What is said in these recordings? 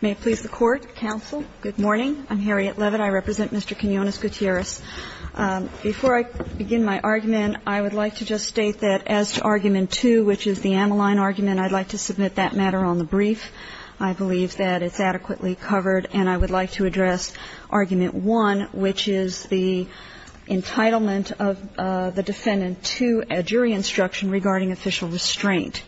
May it please the Court, counsel. Good morning. I'm Harriet Leavitt. I represent Mr. Quinones-Gutierrez. Before I begin my argument, I would like to just state that as to Argument 2, which is the Ammaline argument, I'd like to submit that matter on the brief. I believe that it's adequately covered, and I would like to address Argument 1, which is the entitlement of the defendant to a jury instruction regarding official restraint.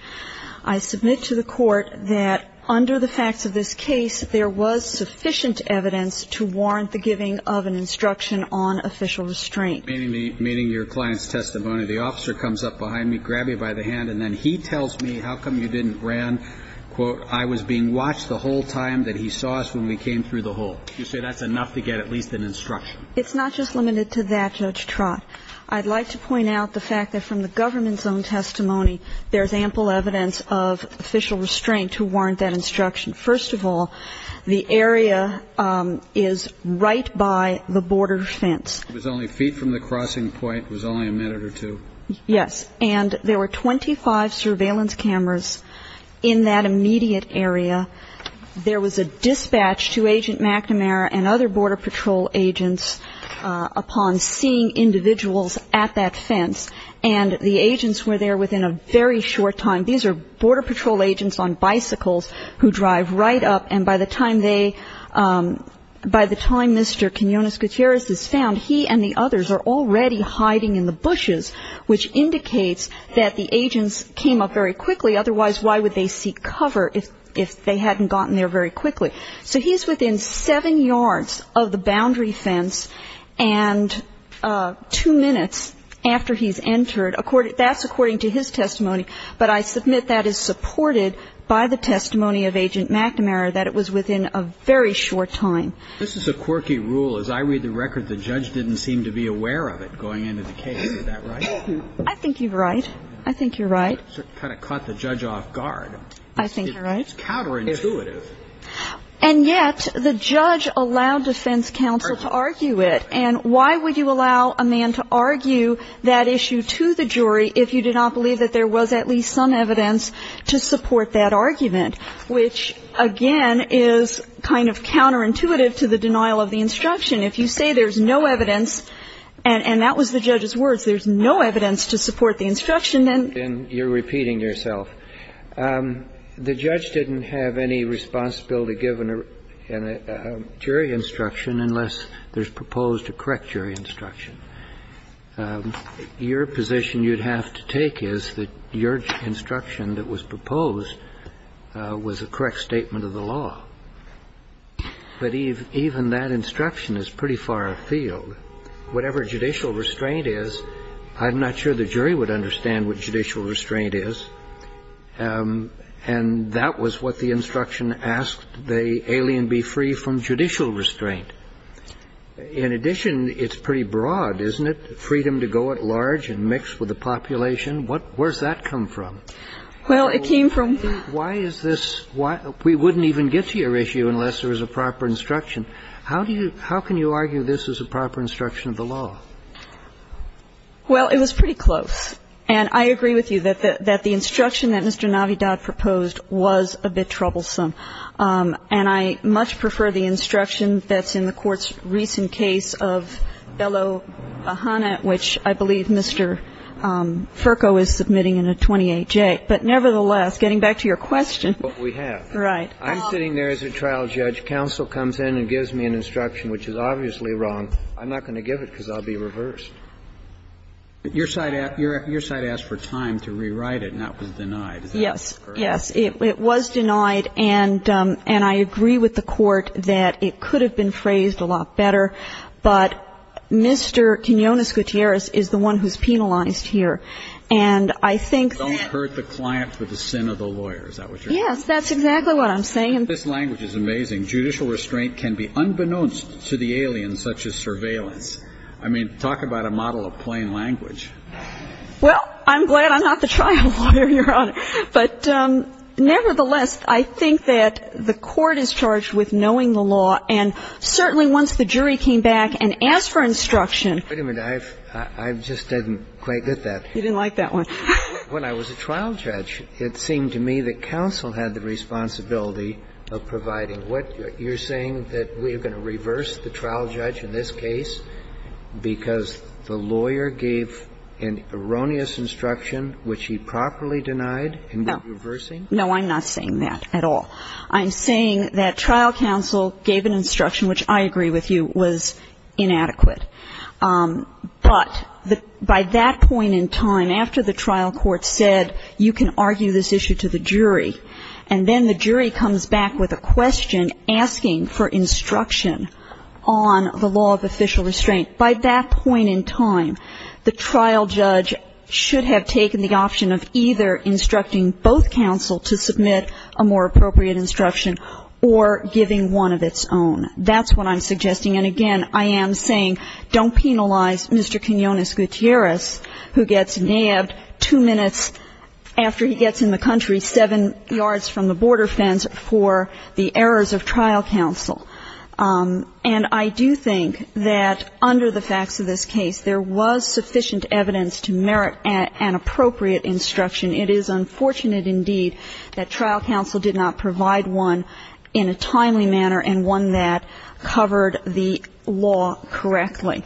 I submit to the Court that under the facts of this case, there was sufficient evidence to warrant the giving of an instruction on official restraint. Meeting your client's testimony, the officer comes up behind me, grab you by the hand, and then he tells me, how come you didn't ran? Quote, I was being watched the whole time that he saw us when we came through the hole. You say that's enough to get at least an instruction? It's not just limited to that, Judge Trott. I'd like to point out the fact that from the government's own testimony, there's ample evidence of official restraint to warrant that instruction. First of all, the area is right by the border fence. It was only feet from the crossing point. It was only a minute or two. Yes. And there were 25 surveillance cameras in that immediate area. There was a dispatch to Agent McNamara and other Border Patrol agents upon seeing individuals at that fence, and the agents were there within a very short time. These are Border Patrol agents on bicycles who drive right up, and by the time Mr. Quinones Gutierrez is found, he and the others are already hiding in the bushes, which indicates that the agents came up very quickly. Otherwise, why would they seek cover if they hadn't gotten there very quickly? So he's within seven yards of the boundary fence and two minutes after he's entered. That's according to his testimony, but I submit that is supported by the testimony of Agent McNamara, that it was within a very short time. This is a quirky rule. As I read the record, the judge didn't seem to be aware of it going into the case. Is that right? I think you're right. I think you're right. It kind of caught the judge off guard. I think you're right. It's counterintuitive. And yet the judge allowed defense counsel to argue it, and why would you allow a man to argue that issue to the jury if you did not believe that there was at least some evidence to support that argument, which, again, is kind of counterintuitive to the denial of the instruction. If you say there's no evidence, and that was the judge's words, there's no evidence to support the instruction, then you're repeating yourself. The judge didn't have any responsibility given a jury instruction unless there's proposed a correct jury instruction. Your position you'd have to take is that your instruction that was proposed was a correct statement of the law. But even that instruction is pretty far afield. Whatever judicial restraint is, I'm not sure the jury would understand what judicial restraint is. And that was what the instruction asked the alien be free from judicial restraint. In addition, it's pretty broad, isn't it? Freedom to go at large and mix with the population. Where's that come from? Well, it came from the law. Why is this? We wouldn't even get to your issue unless there was a proper instruction. How can you argue this is a proper instruction of the law? Well, it was pretty close. And I agree with you that the instruction that Mr. Navidad proposed was a bit troublesome. And I much prefer the instruction that's in the Court's recent case of Bello-Bahana, which I believe Mr. Furco is submitting in a 28J. But nevertheless, getting back to your question. That's what we have. Right. I'm sitting there as a trial judge. Counsel comes in and gives me an instruction which is obviously wrong. I'm not going to give it because I'll be reversed. Your side asked for time to rewrite it, and that was denied. Is that correct? Yes. It was denied. And I agree with the Court that it could have been phrased a lot better. But Mr. Quinones-Gutierrez is the one who's penalized here. And I think that. Don't hurt the client for the sin of the lawyer. Is that what you're saying? Yes, that's exactly what I'm saying. This language is amazing. Judicial restraint can be unbeknownst to the alien such as surveillance. I mean, talk about a model of plain language. Well, I'm glad I'm not the trial lawyer, Your Honor. But nevertheless, I think that the Court is charged with knowing the law. And certainly once the jury came back and asked for instruction. Wait a minute. I just didn't quite get that. You didn't like that one. When I was a trial judge, it seemed to me that counsel had the responsibility of providing what you're saying, that we're going to reverse the trial judge in this I'm saying that trial counsel gave an instruction, which I agree with you, was inadequate. But by that point in time, after the trial court said you can argue this issue to the jury, and then the jury comes back with a question asking for instruction on the law of official restraint, by that point in time, the trial judge should have taken the option of either instructing both counsel to submit a more appropriate instruction or giving one of its own. That's what I'm suggesting. And, again, I am saying don't penalize Mr. Quinones Gutierrez, who gets nabbed two minutes after he gets in the country seven yards from the border fence for the errors of trial counsel. And I do think that under the facts of this case, there was sufficient evidence to merit an appropriate instruction. It is unfortunate, indeed, that trial counsel did not provide one in a timely manner and one that covered the law correctly.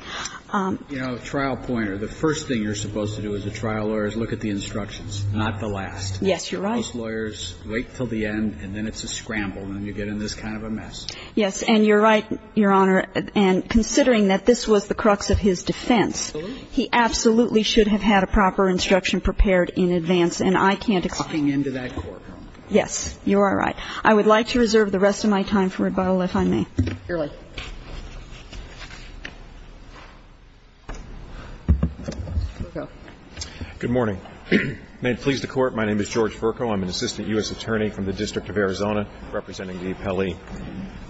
You know, trial pointer, the first thing you're supposed to do as a trial lawyer is look at the instructions, not the last. Yes, you're right. Most lawyers wait until the end, and then it's a scramble, and you get in this kind of a mess. Yes, and you're right, Your Honor, and considering that this was the crux of his defense, he absolutely should have had a proper instruction prepared in advance. And I can't accommodate that. Yes, you are right. I would like to reserve the rest of my time for rebuttal, if I may. Fairly. Vercoe. Good morning. May it please the Court, my name is George Vercoe. I'm an assistant U.S. attorney from the District of Arizona representing the appellee.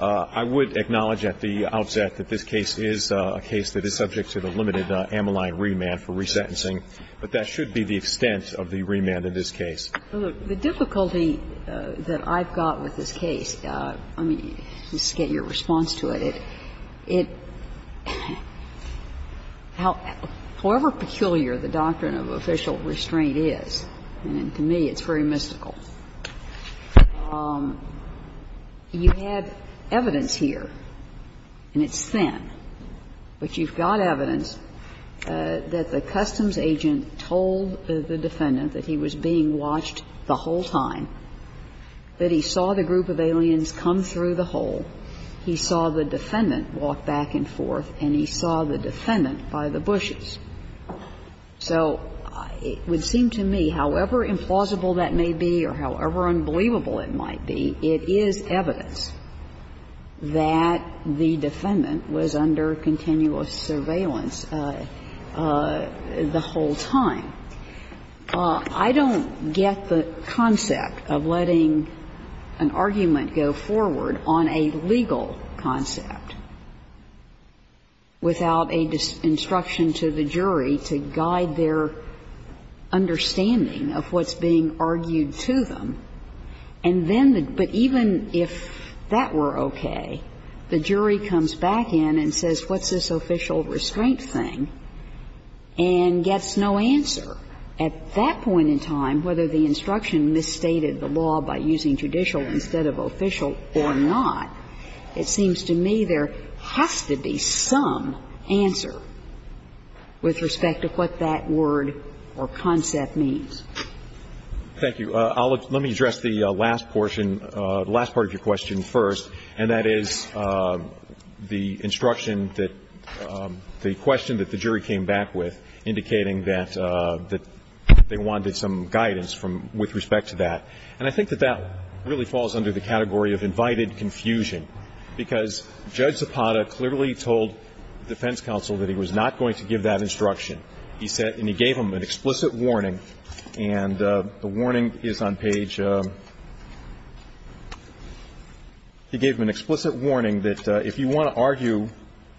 I would acknowledge at the outset that this case is a case that is subject to the limited Ammaline remand for resentencing, but that should be the extent of the remand in this case. The difficulty that I've got with this case, let me just get your response to it. It, however peculiar the doctrine of official restraint is, and to me it's very mystical, you have evidence here, and it's thin, but you've got evidence that the customs agent told the defendant that he was being watched the whole time, that he saw the group of aliens come through the hole, he saw the defendant walk back and forth, and he saw the defendant by the bushes. So it would seem to me, however implausible that may be or however unbelievable it might be, it is evidence that the defendant was under continuous surveillance the whole time. I don't get the concept of letting an argument go forward on a legal concept without a disinstruction to the jury to guide their understanding of what's being argued to them, and then the – but even if that were okay, the jury comes back in and says, what's this official restraint thing, and gets no answer. At that point in time, whether the instruction misstated the law by using judicial instead of official or not, it seems to me there has to be some answer with respect to what that word or concept means. Thank you. Let me address the last portion, the last part of your question first, and that is the instruction that the question that the jury came back with indicating that they wanted some guidance from – with respect to that. And I think that that really falls under the category of invited confusion, because Judge Zapata clearly told the defense counsel that he was not going to give that instruction. He said – and he gave them an explicit warning, and the warning is on page – he gave them an explicit warning that if you want to argue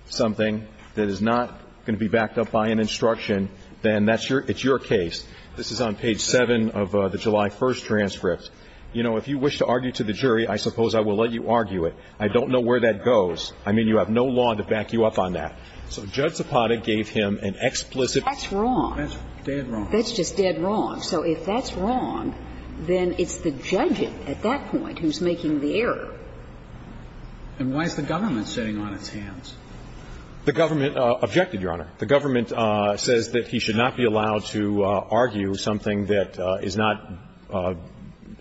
something that is not going to be backed up by an instruction, then that's your – it's your case. This is on page 7 of the July 1st transcript. You know, if you wish to argue to the jury, I suppose I will let you argue it. I don't know where that goes. I mean, you have no law to back you up on that. So Judge Zapata gave him an explicit – That's wrong. That's dead wrong. That's just dead wrong. So if that's wrong, then it's the judge at that point who's making the error. And why is the government sitting on its hands? The government objected, Your Honor. The government says that he should not be allowed to argue something that is not –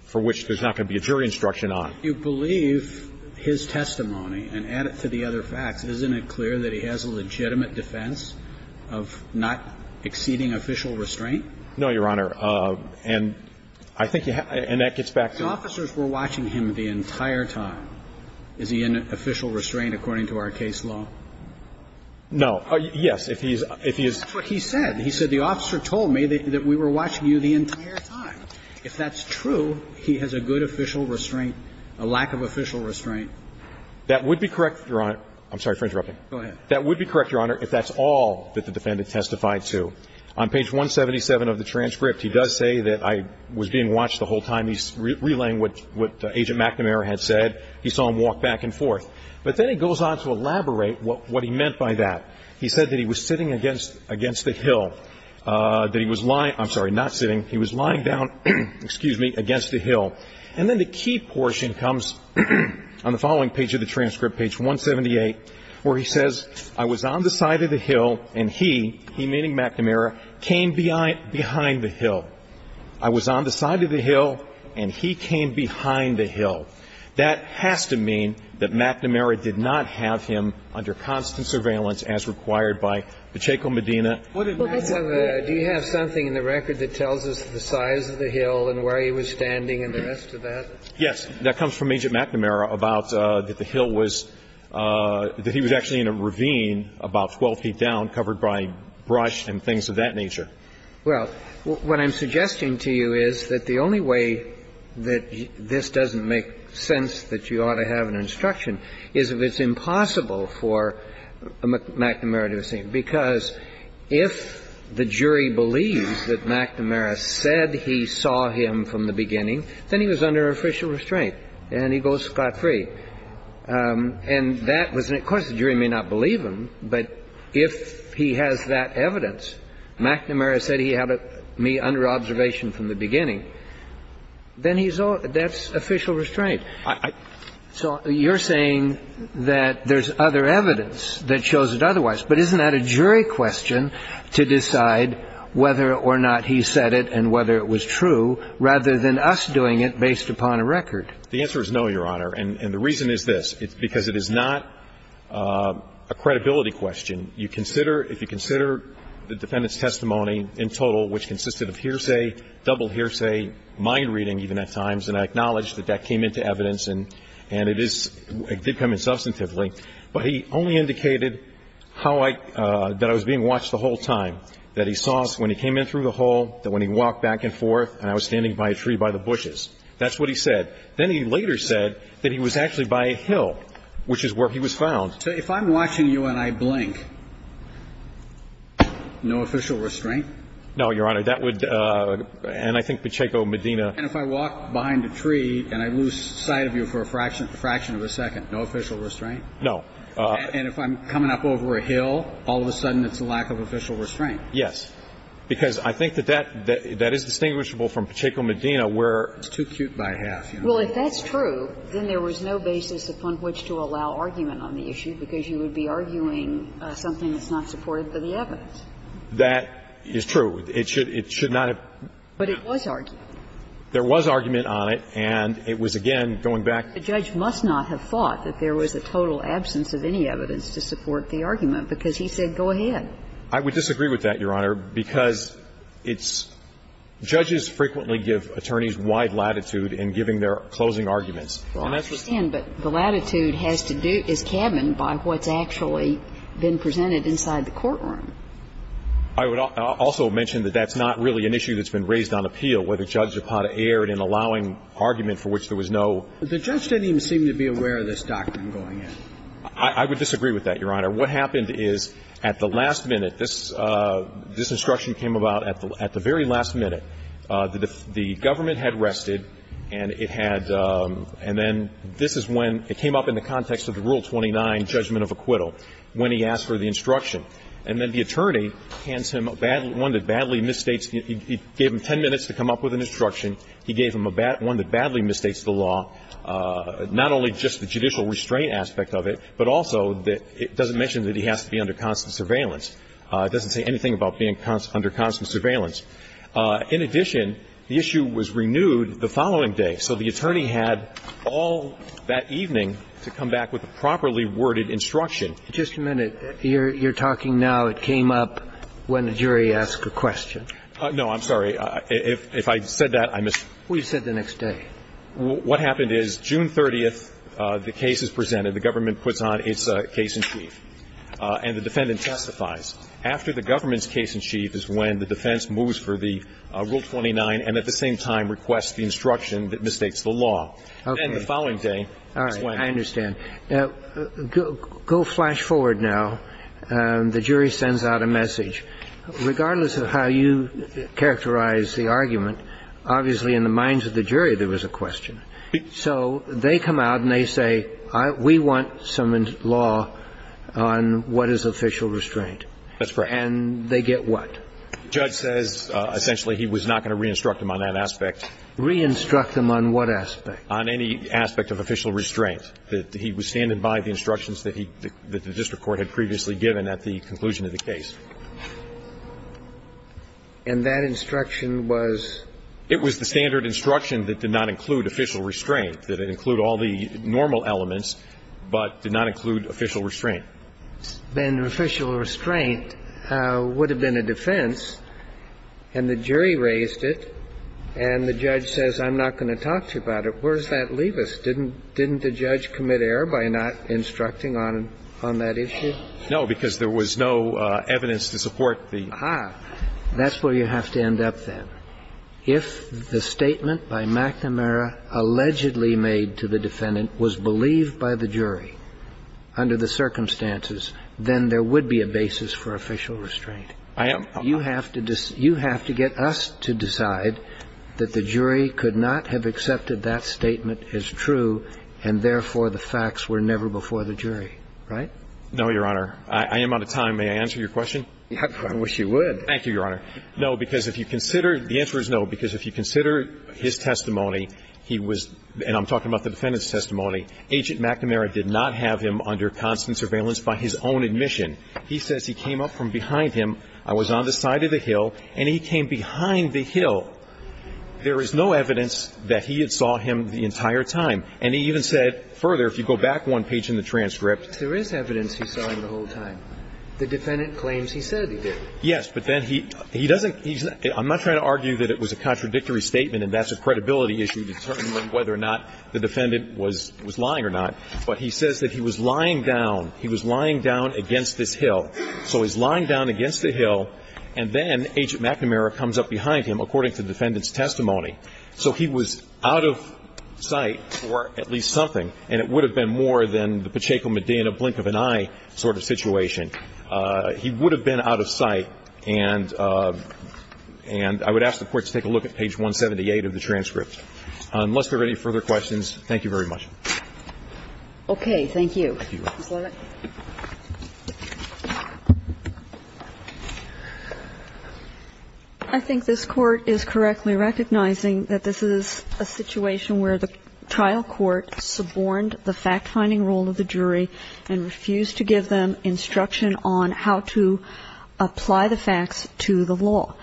for which there's not going to be a jury instruction on. You believe his testimony, and add it to the other facts, isn't it clear that he has a legitimate defense of not exceeding official restraint? No, Your Honor. And I think you have – and that gets back to – The officers were watching him the entire time. Is he in official restraint according to our case law? No. Yes. If he is – That's what he said. He said the officer told me that we were watching you the entire time. If that's true, he has a good official restraint, a lack of official restraint. That would be correct, Your Honor. I'm sorry for interrupting. Go ahead. That would be correct, Your Honor, if that's all that the defendant testified to. On page 177 of the transcript, he does say that I was being watched the whole time. He's relaying what Agent McNamara had said. He saw him walk back and forth. But then he goes on to elaborate what he meant by that. He said that he was sitting against the hill, that he was lying – I'm sorry, not sitting. He was lying down, excuse me, against the hill. And then the key portion comes on the following page of the transcript, page 178, where he says I was on the side of the hill and he, he meaning McNamara, came behind the hill. I was on the side of the hill and he came behind the hill. That has to mean that McNamara did not have him under constant surveillance as required by Pacheco-Medina. Do you have something in the record that tells us the size of the hill and where he was standing and the rest of that? Yes. That comes from Agent McNamara about that the hill was – that he was actually in a ravine about 12 feet down covered by brush and things of that nature. Well, what I'm suggesting to you is that the only way that this doesn't make sense that you ought to have an instruction is if it's impossible for McNamara to have seen, because if the jury believes that McNamara said he saw him from the beginning, then he was under official restraint and he goes scot-free. And that was – of course, the jury may not believe him, but if he has that evidence, McNamara said he had me under observation from the beginning, then he's – that's official restraint. So you're saying that there's other evidence that shows it otherwise. But isn't that a jury question to decide whether or not he said it and whether it was true rather than us doing it based upon a record? The answer is no, Your Honor. And the reason is this. It's because it is not a credibility question. You consider – if you consider the defendant's testimony in total, which consisted of hearsay, double hearsay, mind reading even at times, and I acknowledge that that came into evidence and it is – it did come in substantively, but he only indicated how I – that I was being watched the whole time, that he saw us when he came in through the hall, that when he walked back and forth, and I was standing by a tree by the bushes. That's what he said. Then he later said that he was actually by a hill, which is where he was found. So if I'm watching you and I blink, no official restraint? No, Your Honor. That would – and I think Pacheco-Medina – And if I walk behind a tree and I lose sight of you for a fraction of a second, no official restraint? No. And if I'm coming up over a hill, all of a sudden it's a lack of official restraint? Yes. Because I think that that – that is distinguishable from Pacheco-Medina where – It's too cute by half, you know. Well, if that's true, then there was no basis upon which to allow argument on the issue, because you would be arguing something that's not supported by the evidence. That is true. It should – it should not have. But it was argued. There was argument on it, and it was, again, going back. The judge must not have thought that there was a total absence of any evidence to support the argument, because he said, go ahead. I would disagree with that, Your Honor, because it's – judges frequently give attorneys wide latitude in giving their closing arguments. Well, I understand, but the latitude has to do – is cabined by what's actually been presented inside the courtroom. I would also mention that that's not really an issue that's been raised on appeal, whether judge Zapata erred in allowing argument for which there was no – The judge didn't even seem to be aware of this doctrine going in. I would disagree with that, Your Honor. What happened is, at the last minute, this – this instruction came about at the very last minute. The government had rested, and it had – and then this is when it came up in the context of the Rule 29 judgment of acquittal, when he asked for the instruction. And then the attorney hands him a bad – one that badly misstates – he gave him 10 minutes to come up with an instruction. He gave him a bad – one that badly misstates the law, not only just the judicial restraint aspect of it, but also that it doesn't mention that he has to be under constant surveillance. It doesn't say anything about being under constant surveillance. In addition, the issue was renewed the following day. So the attorney had all that evening to come back with a properly worded instruction. Just a minute. You're talking now it came up when the jury asked a question. No, I'm sorry. If I said that, I missed. Well, you said the next day. What happened is, June 30th, the case is presented. The government puts on its case in chief, and the defendant testifies. After the government's case in chief is when the defense moves for the Rule 29 and at the same time requests the instruction that misstates the law. Okay. Then the following day is when. All right. I understand. Go flash forward now. The jury sends out a message. Regardless of how you characterize the argument, obviously in the minds of the jury there was a question. So they come out and they say, we want some law on what is official restraint. That's correct. And they get what? The judge says essentially he was not going to re-instruct them on that aspect. Re-instruct them on what aspect? On any aspect of official restraint. That he was standing by the instructions that the district court had previously given at the conclusion of the case. And that instruction was? It was the standard instruction that did not include official restraint. That it include all the normal elements, but did not include official restraint. But if there had been official restraint, would have been a defense, and the jury raised it, and the judge says I'm not going to talk to you about it, where does that leave us? Didn't the judge commit error by not instructing on that issue? No, because there was no evidence to support the. Aha. That's where you have to end up then. If the statement by McNamara allegedly made to the defendant was believed by the jury to be true, then there would be a basis for official restraint. I am. You have to get us to decide that the jury could not have accepted that statement as true, and therefore the facts were never before the jury. Right? No, Your Honor. I am out of time. May I answer your question? I wish you would. Thank you, Your Honor. No, because if you consider, the answer is no, because if you consider his testimony, he was, and I'm talking about the defendant's testimony, Agent McNamara did not have him under constant surveillance by his own admission. He says he came up from behind him, I was on the side of the hill, and he came behind the hill. There is no evidence that he had saw him the entire time. And he even said further, if you go back one page in the transcript. There is evidence he saw him the whole time. The defendant claims he said he did. Yes, but then he doesn't he's not I'm not trying to argue that it was a contradictory statement and that's a credibility issue to determine whether or not the defendant was lying or not. But he says that he was lying down. He was lying down against this hill. So he's lying down against the hill, and then Agent McNamara comes up behind him, according to the defendant's testimony. So he was out of sight for at least something, and it would have been more than the Pacheco Medina blink of an eye sort of situation. He would have been out of sight, and I would ask the Court to take a look at page 178 of the transcript. Unless there are any further questions, thank you very much. Okay. Thank you. I think this Court is correctly recognizing that this is a situation where the trial court suborned the fact-finding role of the jury and refused to give them instruction on how to apply the facts to the law.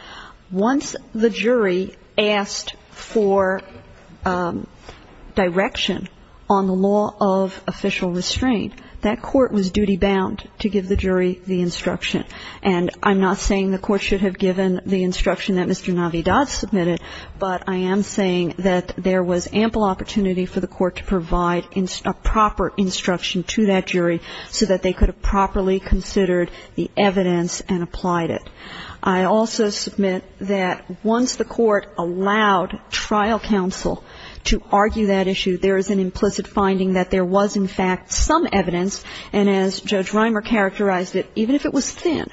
Once the jury asked for direction on the law of official restraint, that court was duty-bound to give the jury the instruction. And I'm not saying the Court should have given the instruction that Mr. Navidad submitted, but I am saying that there was ample opportunity for the Court to provide a proper instruction to that jury so that they could have properly considered the evidence and applied it. I also submit that once the Court allowed trial counsel to argue that issue, there is an implicit finding that there was, in fact, some evidence, and as Judge Reimer characterized it, even if it was thin,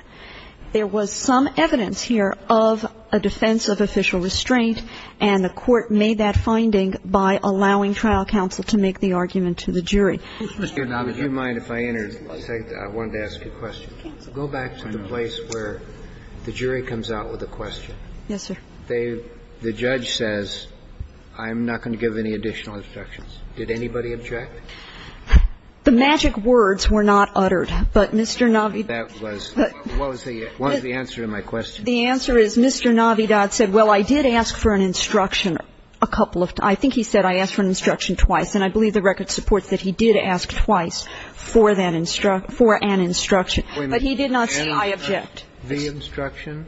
there was some evidence here of a defense of official restraint, and the Court made that finding by allowing trial counsel to make the argument to the jury. Mr. Navidad. Mr. Navidad, if you don't mind, if I may, I wanted to ask a question. Go back to the place where the jury comes out with a question. Yes, sir. The judge says, I'm not going to give any additional instructions. Did anybody object? The magic words were not uttered, but Mr. Navidad. That was the answer to my question. The answer is Mr. Navidad said, well, I did ask for an instruction a couple of times. I think he said I asked for an instruction twice, and I believe the record supports that he did ask twice for an instruction, but he did not say I object. The instruction?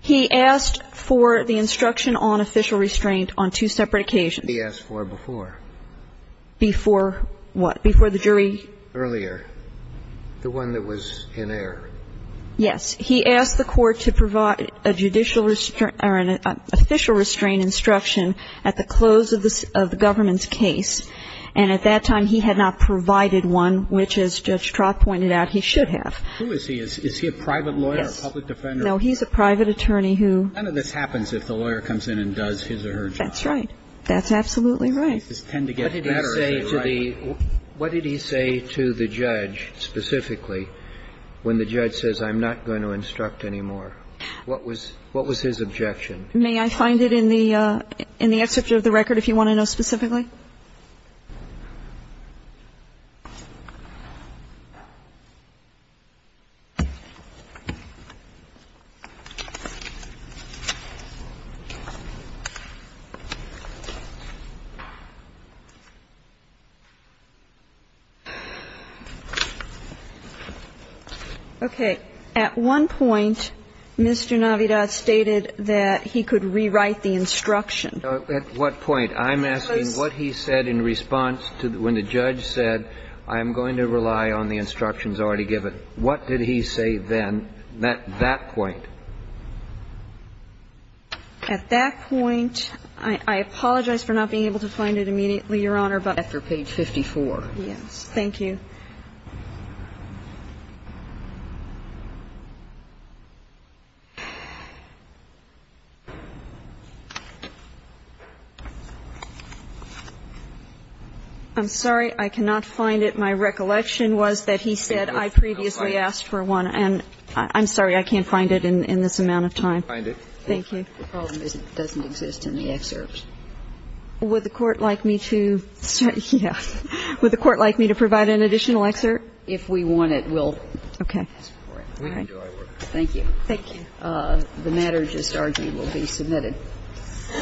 He asked for the instruction on official restraint on two separate occasions. He asked for it before. Before what? Before the jury? Earlier. The one that was in error. Yes. He asked the court to provide a judicial or an official restraint instruction at the close of the government's case, and at that time he had not provided one, which, as Judge Trott pointed out, he should have. Who is he? Is he a private lawyer, a public defender? No, he's a private attorney who – None of this happens if the lawyer comes in and does his or her job. That's right. That's absolutely right. What did he say to the – what did he say to the judge specifically when the judge says I'm not going to instruct anymore? What was his objection? May I find it in the excerpt of the record if you want to know specifically? Okay. At one point, Mr. Navidad stated that he could rewrite the instruction. At what point? At that point, I apologize for not being able to find it immediately, Your Honor, but after page 54. Yes. Thank you. I'm sorry. I cannot find it. My recollection was that he said, I previously asked for one. And I'm sorry, I can't find it in this amount of time. Thank you. The problem is it doesn't exist in the excerpts. Would the Court like me to provide an additional excerpt? If we want it, we'll ask for it. Okay. We can do our work. Thank you. Thank you. Thank you.